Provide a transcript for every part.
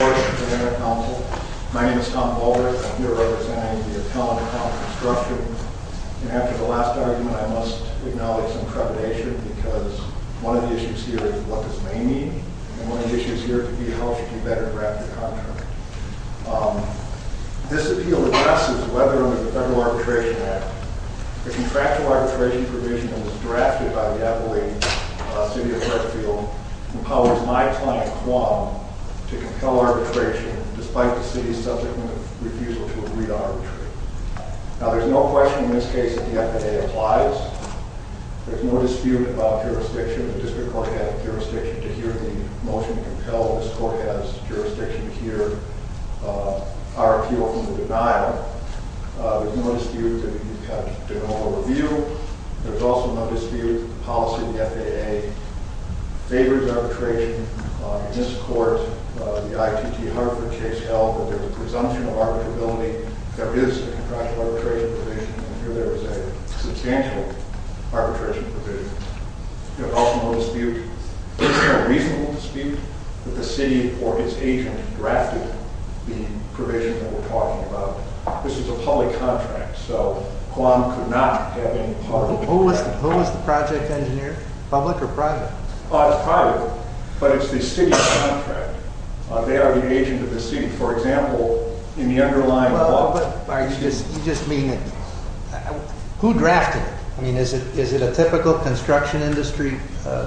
My name is Tom Boulder. I'm here representing the Attelment Company Construction. And after the last argument, I must acknowledge some trepidation, because one of the issues here is what this may mean, and one of the issues here could be how we should better draft the contract. This appeal addresses whether or not the Federal Arbitration Act, the contractual arbitration provision that was drafted by the Adelaide City of Redfield, empowers my client, Quam, to compel arbitration despite the City's subsequent refusal to agree to arbitrate. Now, there's no question in this case that the FAA applies. There's no dispute about jurisdiction. The District Court has jurisdiction to hear the motion to compel. This Court has jurisdiction to hear our appeal from the denial. There's no dispute that we have to do an overview. There's also no dispute that the policy of the FAA favors arbitration. In this Court, the ITT Hartford case held that there's a presumption of arbitrability. There is a contractual arbitration provision, and here there is a substantial arbitration provision. There's also no dispute, a reasonable dispute, that the City or its agent drafted the provision that we're talking about. This is a public contract, so Quam could not have any part of it. Who was the project engineer, public or private? It's private, but it's the City's contract. They are the agent of the City. For example, in the underlying law... You just mean, who drafted it? I mean, is it a typical construction industry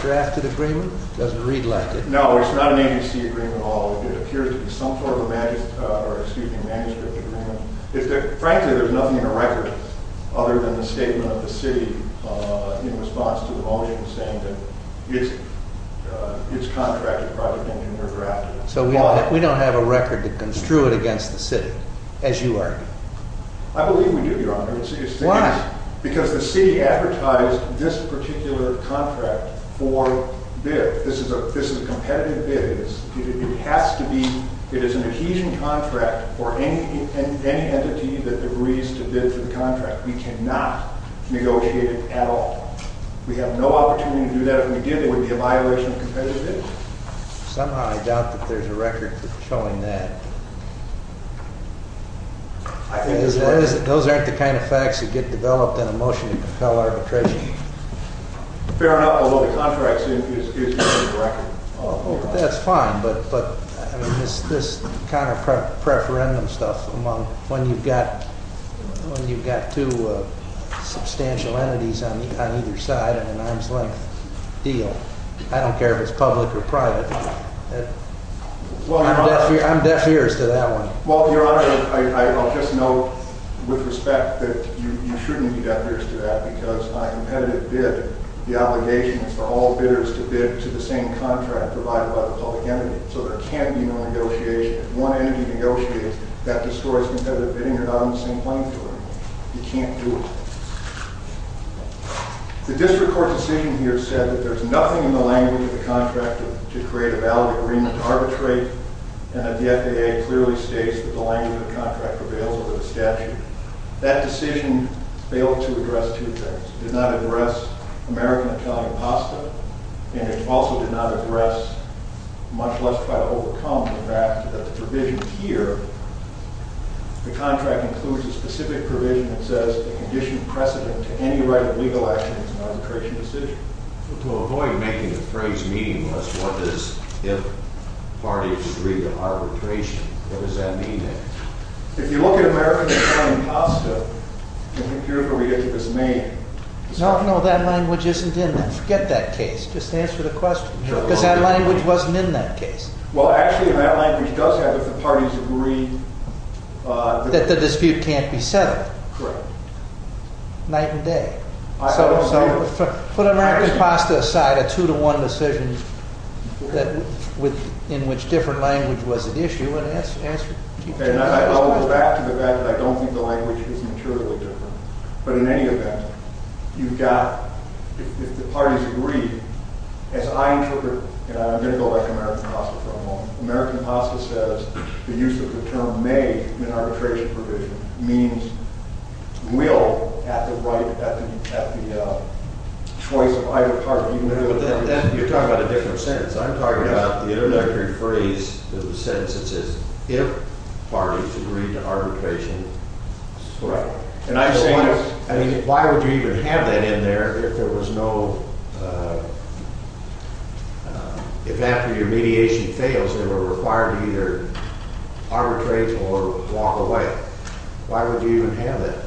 drafted agreement? It doesn't read like it. No, it's not an agency agreement at all. It appears to be some sort of a manuscript agreement. Frankly, there's nothing in the record other than the statement of the City in response to the motion saying that its contractor, Project Engineer, drafted it. So we don't have a record to construe it against the City, as you argue? I believe we do, Your Honor. Why? Because the City advertised this particular contract for bid. This is a competitive bid. It has to be, it is an adhesion contract for any entity that agrees to bid for the contract. We cannot negotiate it at all. We have no opportunity to do that. If we did, it would be a violation of competitive bidding. Somehow I doubt that there's a record showing that. Those aren't the kind of facts that get developed in a motion to compel arbitration. Fair enough, although the contract seems to be a record. That's fine, but this counter-preferendum stuff among when you've got two substantial entities on either side in an arm's length deal. I don't care if it's public or private. I'm deaf ears to that one. Well, Your Honor, I'll just note with respect that you shouldn't be deaf ears to that, because on a competitive bid, the obligation is for all bidders to bid to the same contract provided by the public entity. So there can't be no negotiation. If one entity negotiates, that destroys competitive bidding. You're not on the same plane with them. You can't do it. The district court decision here said that there's nothing in the language of the contract to create a valid agreement to arbitrate, and that the FAA clearly states that the language of the contract prevails over the statute. That decision failed to address two things. It did not address American Italian pasta, and it also did not address much less try to overcome the fact that the provision here, the contract includes a specific provision that says a condition precedent to any right of legal action is an arbitration decision. So to avoid making the phrase meaningless, what is if parties agree to arbitration? What does that mean then? If you look at American Italian pasta, I think you're going to get to this main... No, no, that language isn't in that. Forget that case. Just answer the question. Because that language wasn't in that case. Well, actually, that language does have, if the parties agree... That the dispute can't be settled. Correct. Night and day. I don't know. So put American pasta aside, a two-to-one decision in which different language was at issue, and answer... I'll go back to the fact that I don't think the language is materially different. But in any event, you've got, if the parties agree, as I interpret... And I'm going to go back to American pasta for a moment. American pasta says the use of the term may in arbitration provision means will at the right, at the choice of either party. But then you're talking about a different sentence. I'm talking about the introductory phrase in the sentence that says if parties agree to arbitration... Correct. I mean, why would you even have that in there if there was no... If after your mediation fails, they were required to either arbitrate or walk away? Why would you even have that?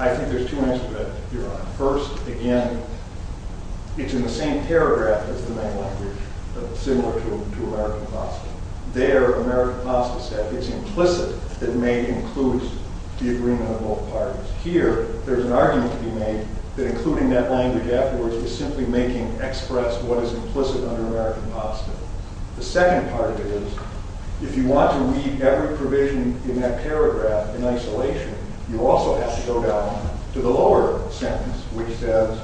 I think there's two answers to that. First, again, it's in the same paragraph as the main language, but similar to American pasta. There, American pasta said it's implicit that may include the agreement of both parties. Here, there's an argument to be made that including that language afterwards is simply making express what is implicit under American pasta. The second part of it is if you want to read every provision in that paragraph in isolation, you also have to go down to the lower sentence, which says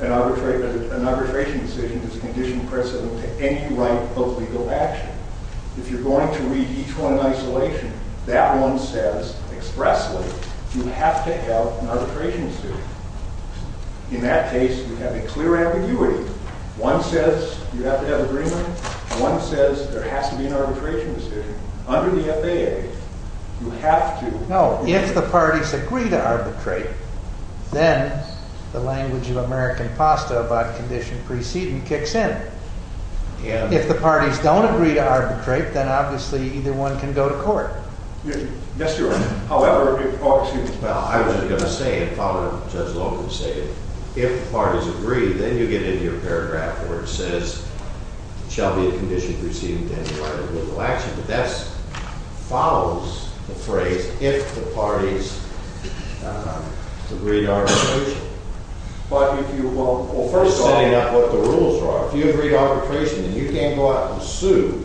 an arbitration decision is a condition precedent to any right of legal action. If you're going to read each one in isolation, that one says expressly you have to have an arbitration decision. In that case, you have a clear ambiguity. One says you have to have agreement. One says there has to be an arbitration decision. Under the FAA, you have to. No. If the parties agree to arbitrate, then the language of American pasta about condition precedent kicks in. If the parties don't agree to arbitrate, then obviously either one can go to court. Yes, Your Honor. However, if the parties agree. Well, I was going to say, and probably Judge Logan would say it, if the parties agree, then you get into your paragraph where it says shall be a condition precedent to any right of legal action. But that follows the phrase if the parties agree to arbitration. But if you won't. Well, first setting up what the rules are. If you agree to arbitration, then you can't go out and sue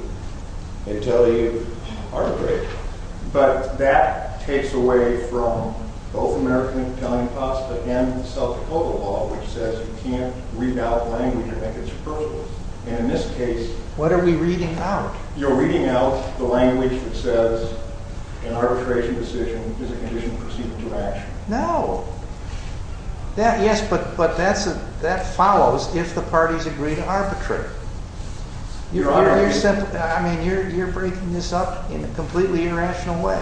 until you arbitrate. But that takes away from both American Italian pasta and the South Dakota law, which says you can't read out language and make it superfluous. And in this case. What are we reading out? You're reading out the language that says an arbitration decision is a condition precedent to action. No. Yes, but that follows if the parties agree to arbitrate. Your Honor. I mean, you're breaking this up in a completely irrational way.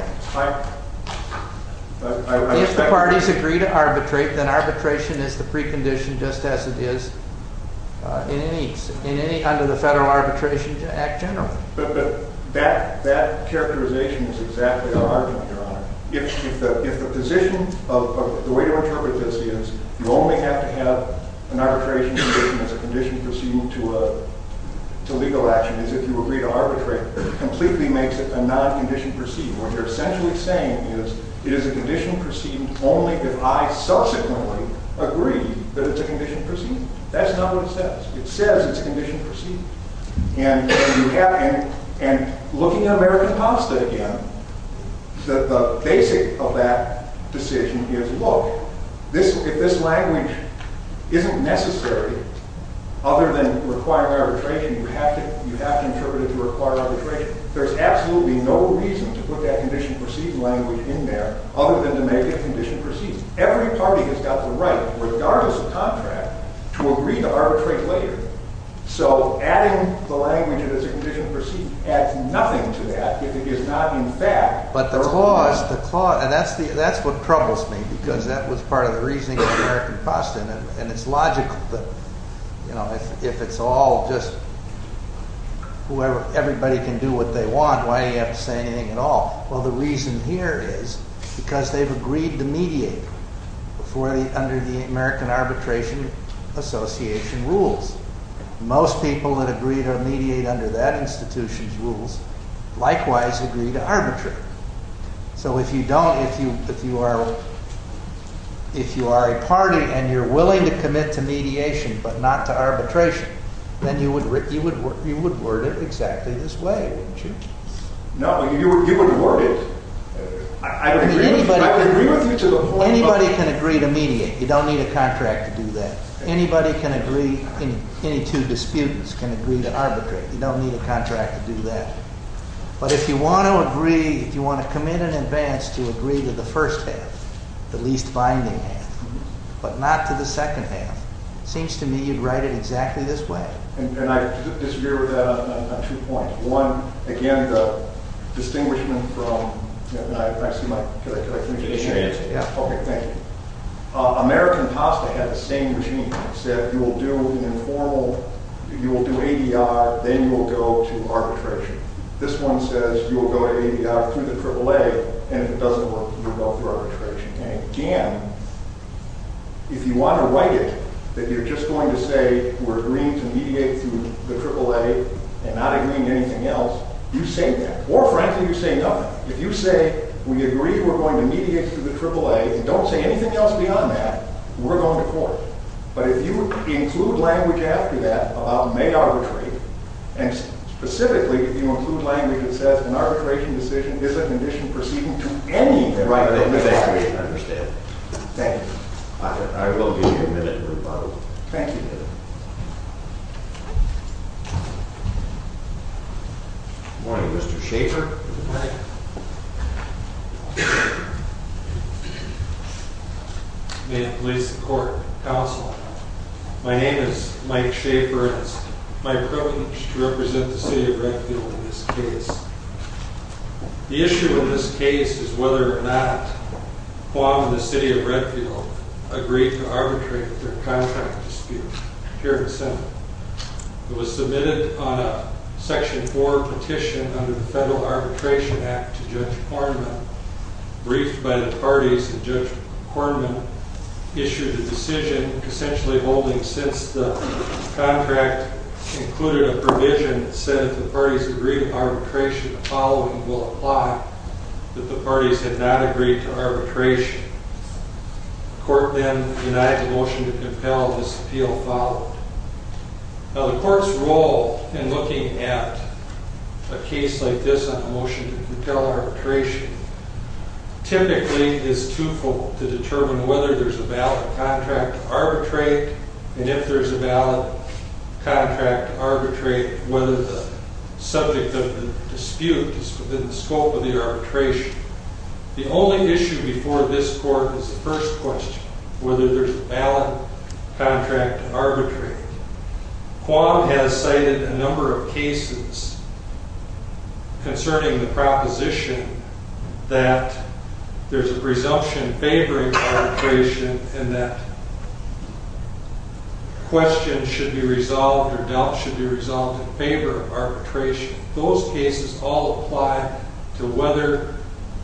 If the parties agree to arbitrate, then arbitration is the precondition just as it is under the Federal Arbitration Act generally. But that characterization is exactly our argument, Your Honor. If the position of the way to interpret this is you only have to have an arbitration decision as a condition precedent to legal action is if you agree to arbitrate. It completely makes it a non-condition precedent. What you're essentially saying is it is a condition precedent only if I subsequently agree that it's a condition precedent. That's not what it says. It says it's a condition precedent. And looking at American pasta again, the basic of that decision is, look, if this language isn't necessary other than requiring arbitration, you have to interpret it to require arbitration. There's absolutely no reason to put that condition precedent language in there other than to make it a condition precedent. Every party has got the right, regardless of contract, to agree to arbitrate later. So adding the language of it as a condition precedent adds nothing to that if it is not in fact a condition precedent. But the clause, and that's what troubles me because that was part of the reasoning of American pasta. And it's logical that if it's all just everybody can do what they want, why do you have to say anything at all? Well, the reason here is because they've agreed to mediate under the American Arbitration Association rules. Most people that agree to mediate under that institution's rules likewise agree to arbitrate. So if you don't, if you are a party and you're willing to commit to mediation but not to arbitration, then you would word it exactly this way, wouldn't you? No. You would word it. I would agree with you to the whole. Anybody can agree to mediate. You don't need a contract to do that. Anybody can agree, any two disputants can agree to arbitrate. You don't need a contract to do that. But if you want to agree, if you want to commit in advance to agree to the first half, the least binding half, but not to the second half, it seems to me you'd write it exactly this way. And I disagree with that on two points. One, again, the distinguishment from, and I see my, can I, can I finish? Finish your answer. Yeah, okay, thank you. American PASTA had the same regime. It said you will do an informal, you will do ADR, then you will go to arbitration. This one says you will go to ADR through the AAA, and if it doesn't work, you'll go through arbitration. Again, if you want to write it that you're just going to say we're agreeing to mediate through the AAA and not agreeing to anything else, you say that. Or, frankly, you say nothing. If you say we agree we're going to mediate through the AAA and don't say anything else beyond that, we're going to court. But if you include language after that about may arbitrate, and specifically if you include language that says an arbitration decision is a condition proceeding to any right of mediation. I understand. Thank you. I will give you a minute to rebuttal. Thank you, David. Good morning, Mr. Shaffer. Good morning. May it please the court, counsel. My name is Mike Shaffer. It's my privilege to represent the city of Redfield in this case. The issue in this case is whether or not Guam and the city of Redfield agreed to arbitrate their contract dispute here in the Senate. It was submitted on a Section 4 petition under the Federal Arbitration Act to Judge Kornman. Briefed by the parties, Judge Kornman issued a decision essentially holding since the contract included a provision that said if the parties agreed to arbitration, the following will apply, that the parties had not agreed to arbitration. The court then denied the motion to compel this appeal followed. Now, the court's role in looking at a case like this on a motion to compel arbitration typically is twofold, to determine whether there's a valid contract to arbitrate, and if there's a valid contract to arbitrate, whether the subject of the dispute is within the scope of the arbitration. The only issue before this court is the first question, whether there's a valid contract to arbitrate. Guam has cited a number of cases concerning the proposition that there's a presumption favoring arbitration and that questions should be resolved or doubts should be resolved in favor of arbitration. Those cases all apply to whether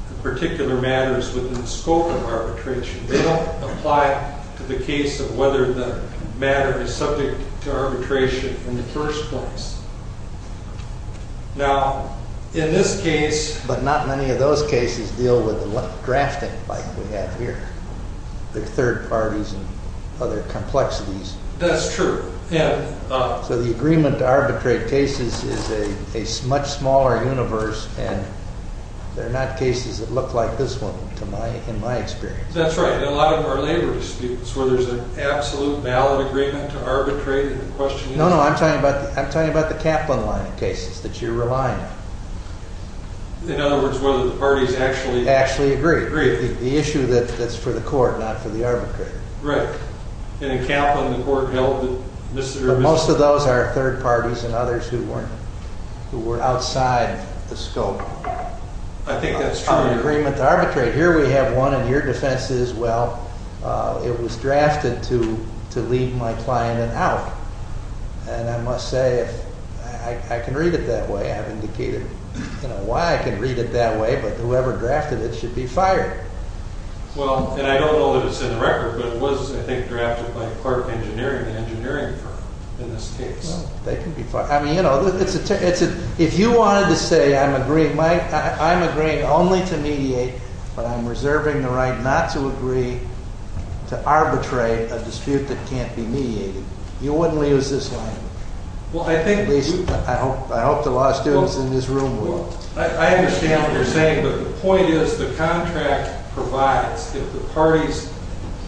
a particular matter is within the scope of arbitration. They don't apply to the case of whether the matter is subject to arbitration in the first place. Now, in this case... But not many of those cases deal with drafting like we have here. They're third parties and other complexities. That's true. So the agreement to arbitrate cases is a much smaller universe, and they're not cases that look like this one in my experience. That's right. In a lot of our labor disputes, where there's an absolute valid agreement to arbitrate, the question is... No, no, I'm talking about the Kaplan line of cases that you're relying on. In other words, whether the parties actually... Actually agree. Agree. The issue that's for the court, not for the arbitrator. Right. And in Kaplan, the court held that Mr. and Mrs.... But most of those are third parties and others who were outside the scope of the agreement to arbitrate. I think that's true. Here we have one, and your defense is, well, it was drafted to leave my client in out. And I must say, if I can read it that way, I've indicated why I can read it that way, but whoever drafted it should be fired. Well, and I don't know that it's in the record, but it was, I think, drafted by Clark Engineering, an engineering firm, in this case. Well, they can be fired. I mean, you know, if you wanted to say, I'm agreeing only to mediate, but I'm reserving the right not to agree to arbitrate a dispute that can't be mediated, you wouldn't leave us this way. Well, I think... At least, I hope the law students in this room would. Well, I understand what you're saying, but the point is, the contract provides that the parties...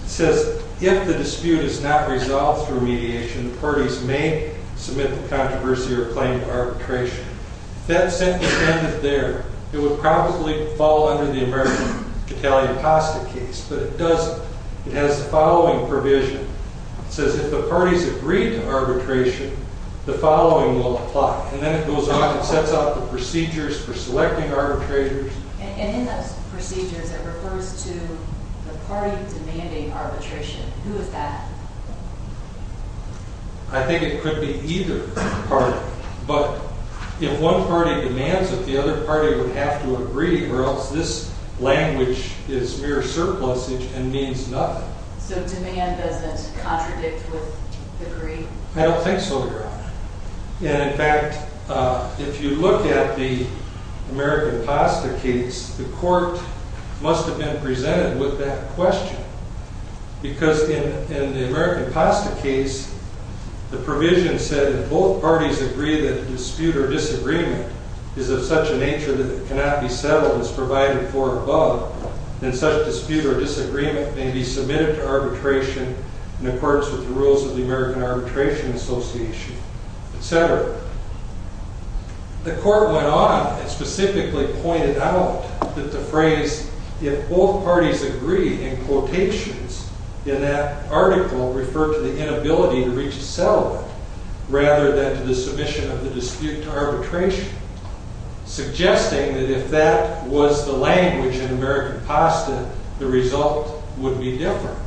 It says, if the dispute is not resolved through mediation, the parties may submit the controversy or claim to arbitration. If that sentence ended there, it would probably fall under the American Catalia-Pasta case, but it doesn't. It has the following provision. It says, if the parties agree to arbitration, the following will apply. And then it goes on. It sets out the procedures for selecting arbitrators. And in those procedures, it refers to the party demanding arbitration. Who is that? I think it could be either party, but if one party demands it, the other party would have to agree, or else this language is mere surplusage and means nothing. So demand doesn't contradict with agree? I don't think so, Your Honor. And in fact, if you look at the American Pasta case, the court must have been presented with that question. Because in the American Pasta case, the provision said, if both parties agree that a dispute or disagreement is of such a nature that it cannot be settled and is provided for above, then such dispute or disagreement may be submitted to arbitration in accordance with the rules of the American Arbitration Association, et cetera. The court went on and specifically pointed out that the phrase, if both parties agree, in quotations in that article referred to the inability to reach a settlement, rather than to the submission of the dispute to arbitration, suggesting that if that was the language in American Pasta, the result would be different.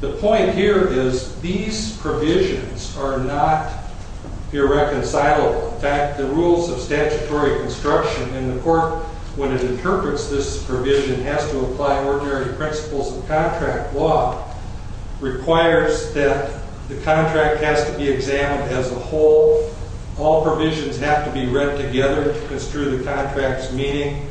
The point here is these provisions are not irreconcilable. In fact, the rules of statutory construction in the court, when it interprets this provision, has to apply ordinary principles of contract law, requires that the contract has to be examined as a whole. All provisions have to be read together to construe the contract's meaning.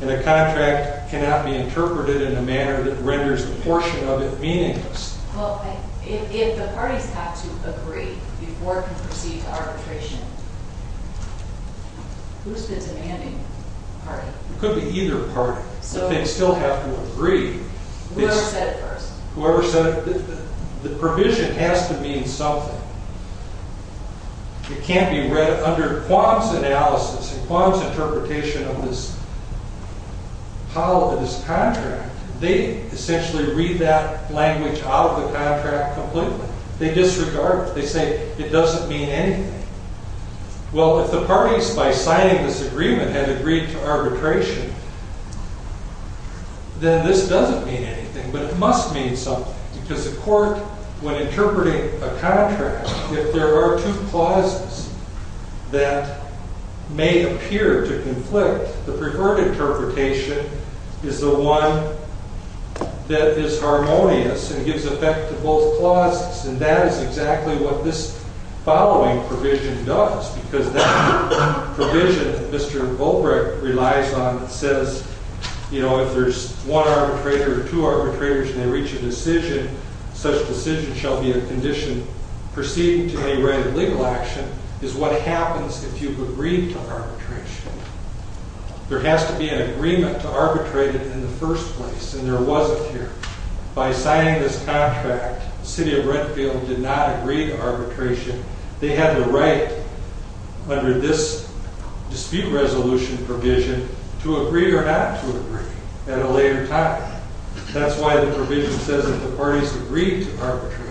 And a contract cannot be interpreted in a manner that renders a portion of it meaningless. Well, if the parties have to agree before it can proceed to arbitration, who's the demanding party? It could be either party, but they still have to agree. Whoever said it first. Whoever said it. The provision has to mean something. It can't be read under Quam's analysis and Quam's interpretation of this contract. They essentially read that language out of the contract completely. They disregard it. They say it doesn't mean anything. Well, if the parties, by signing this agreement, had agreed to arbitration, then this doesn't mean anything. But it must mean something. Because the court, when interpreting a contract, if there are two clauses that may appear to conflict, the preferred interpretation is the one that is harmonious and gives effect to both clauses. And that is exactly what this following provision does. Because that provision that Mr. Volbrecht relies on that says, you know, if there's one arbitrator or two arbitrators and they reach a decision, such decision shall be a condition proceeding to any written legal action, is what happens if you agree to arbitration. There has to be an agreement to arbitrate it in the first place. And there wasn't here. By signing this contract, the city of Redfield did not agree to arbitration. They had the right, under this dispute resolution provision, to agree or not to agree at a later time. That's why the provision says that the parties agreed to arbitration.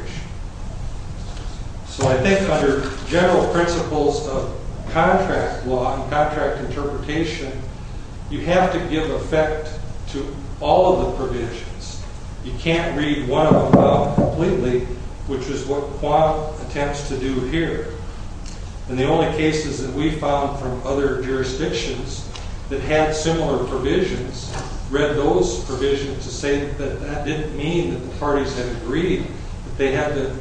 So I think under general principles of contract law and contract interpretation, you have to give effect to all of the provisions. You can't read one of them out completely, which is what Quam attempts to do here. And the only cases that we found from other jurisdictions that had similar provisions read those provisions to say that that didn't mean that the parties had agreed. They had to,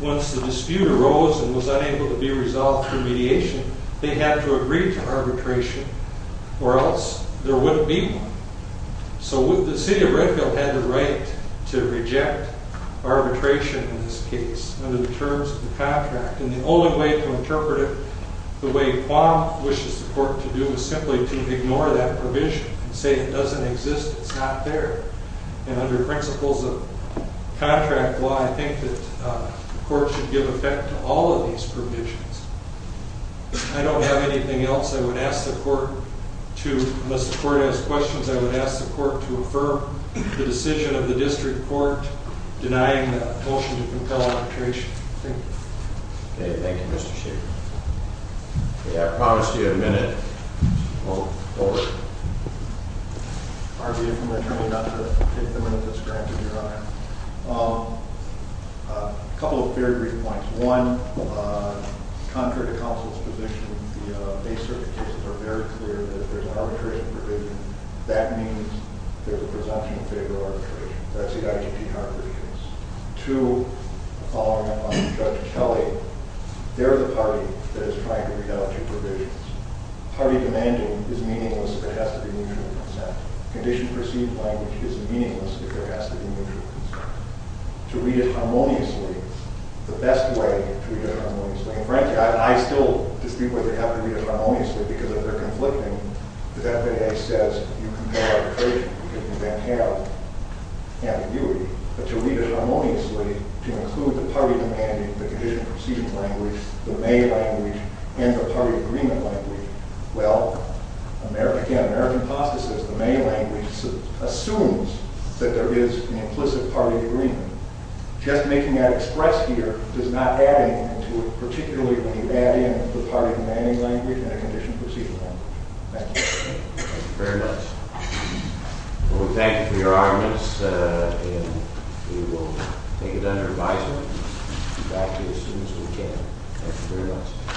once the dispute arose and was unable to be resolved through mediation, they had to agree to arbitration or else there wouldn't be one. So the city of Redfield had the right to reject arbitration in this case under the terms of the contract. And the only way to interpret it the way Quam wishes the court to do is simply to ignore that provision and say it doesn't exist. It's not there. And under principles of contract law, I think that the court should give effect to all of these provisions. I don't have anything else I would ask the court to unless the court has questions. I would ask the court to affirm the decision of the district court denying the motion to compel arbitration. Thank you. Okay, thank you, Mr. Shaffer. Okay, I promised you a minute. Well, don't worry. A couple of very brief points. One, contrary to counsel's position, the base cert cases are very clear that there's an arbitration provision that means there's a presumption in favor of arbitration. That's the ITPR provisions. Two, following up on Judge Kelly, they're the party that is trying to reality provisions. Party demanding is meaningless if it has to be mutual consent. Conditioned perceived language is meaningless if there has to be mutual consent. To read it harmoniously, the best way to read it harmoniously, and frankly, I still disagree whether you have to read it harmoniously because if they're conflicting, the FAA says you can have arbitration. You can then have ambiguity. But to read it harmoniously, to include the party demanding, the conditioned perceived language, the may language, and the party agreement language, well, again, American apostasis, the may language assumes that there is an implicit party agreement. Just making that express here does not add anything to it, Thank you very much. We thank you for your audience, and we will take it under advisement and be back here as soon as we can. Thank you very much.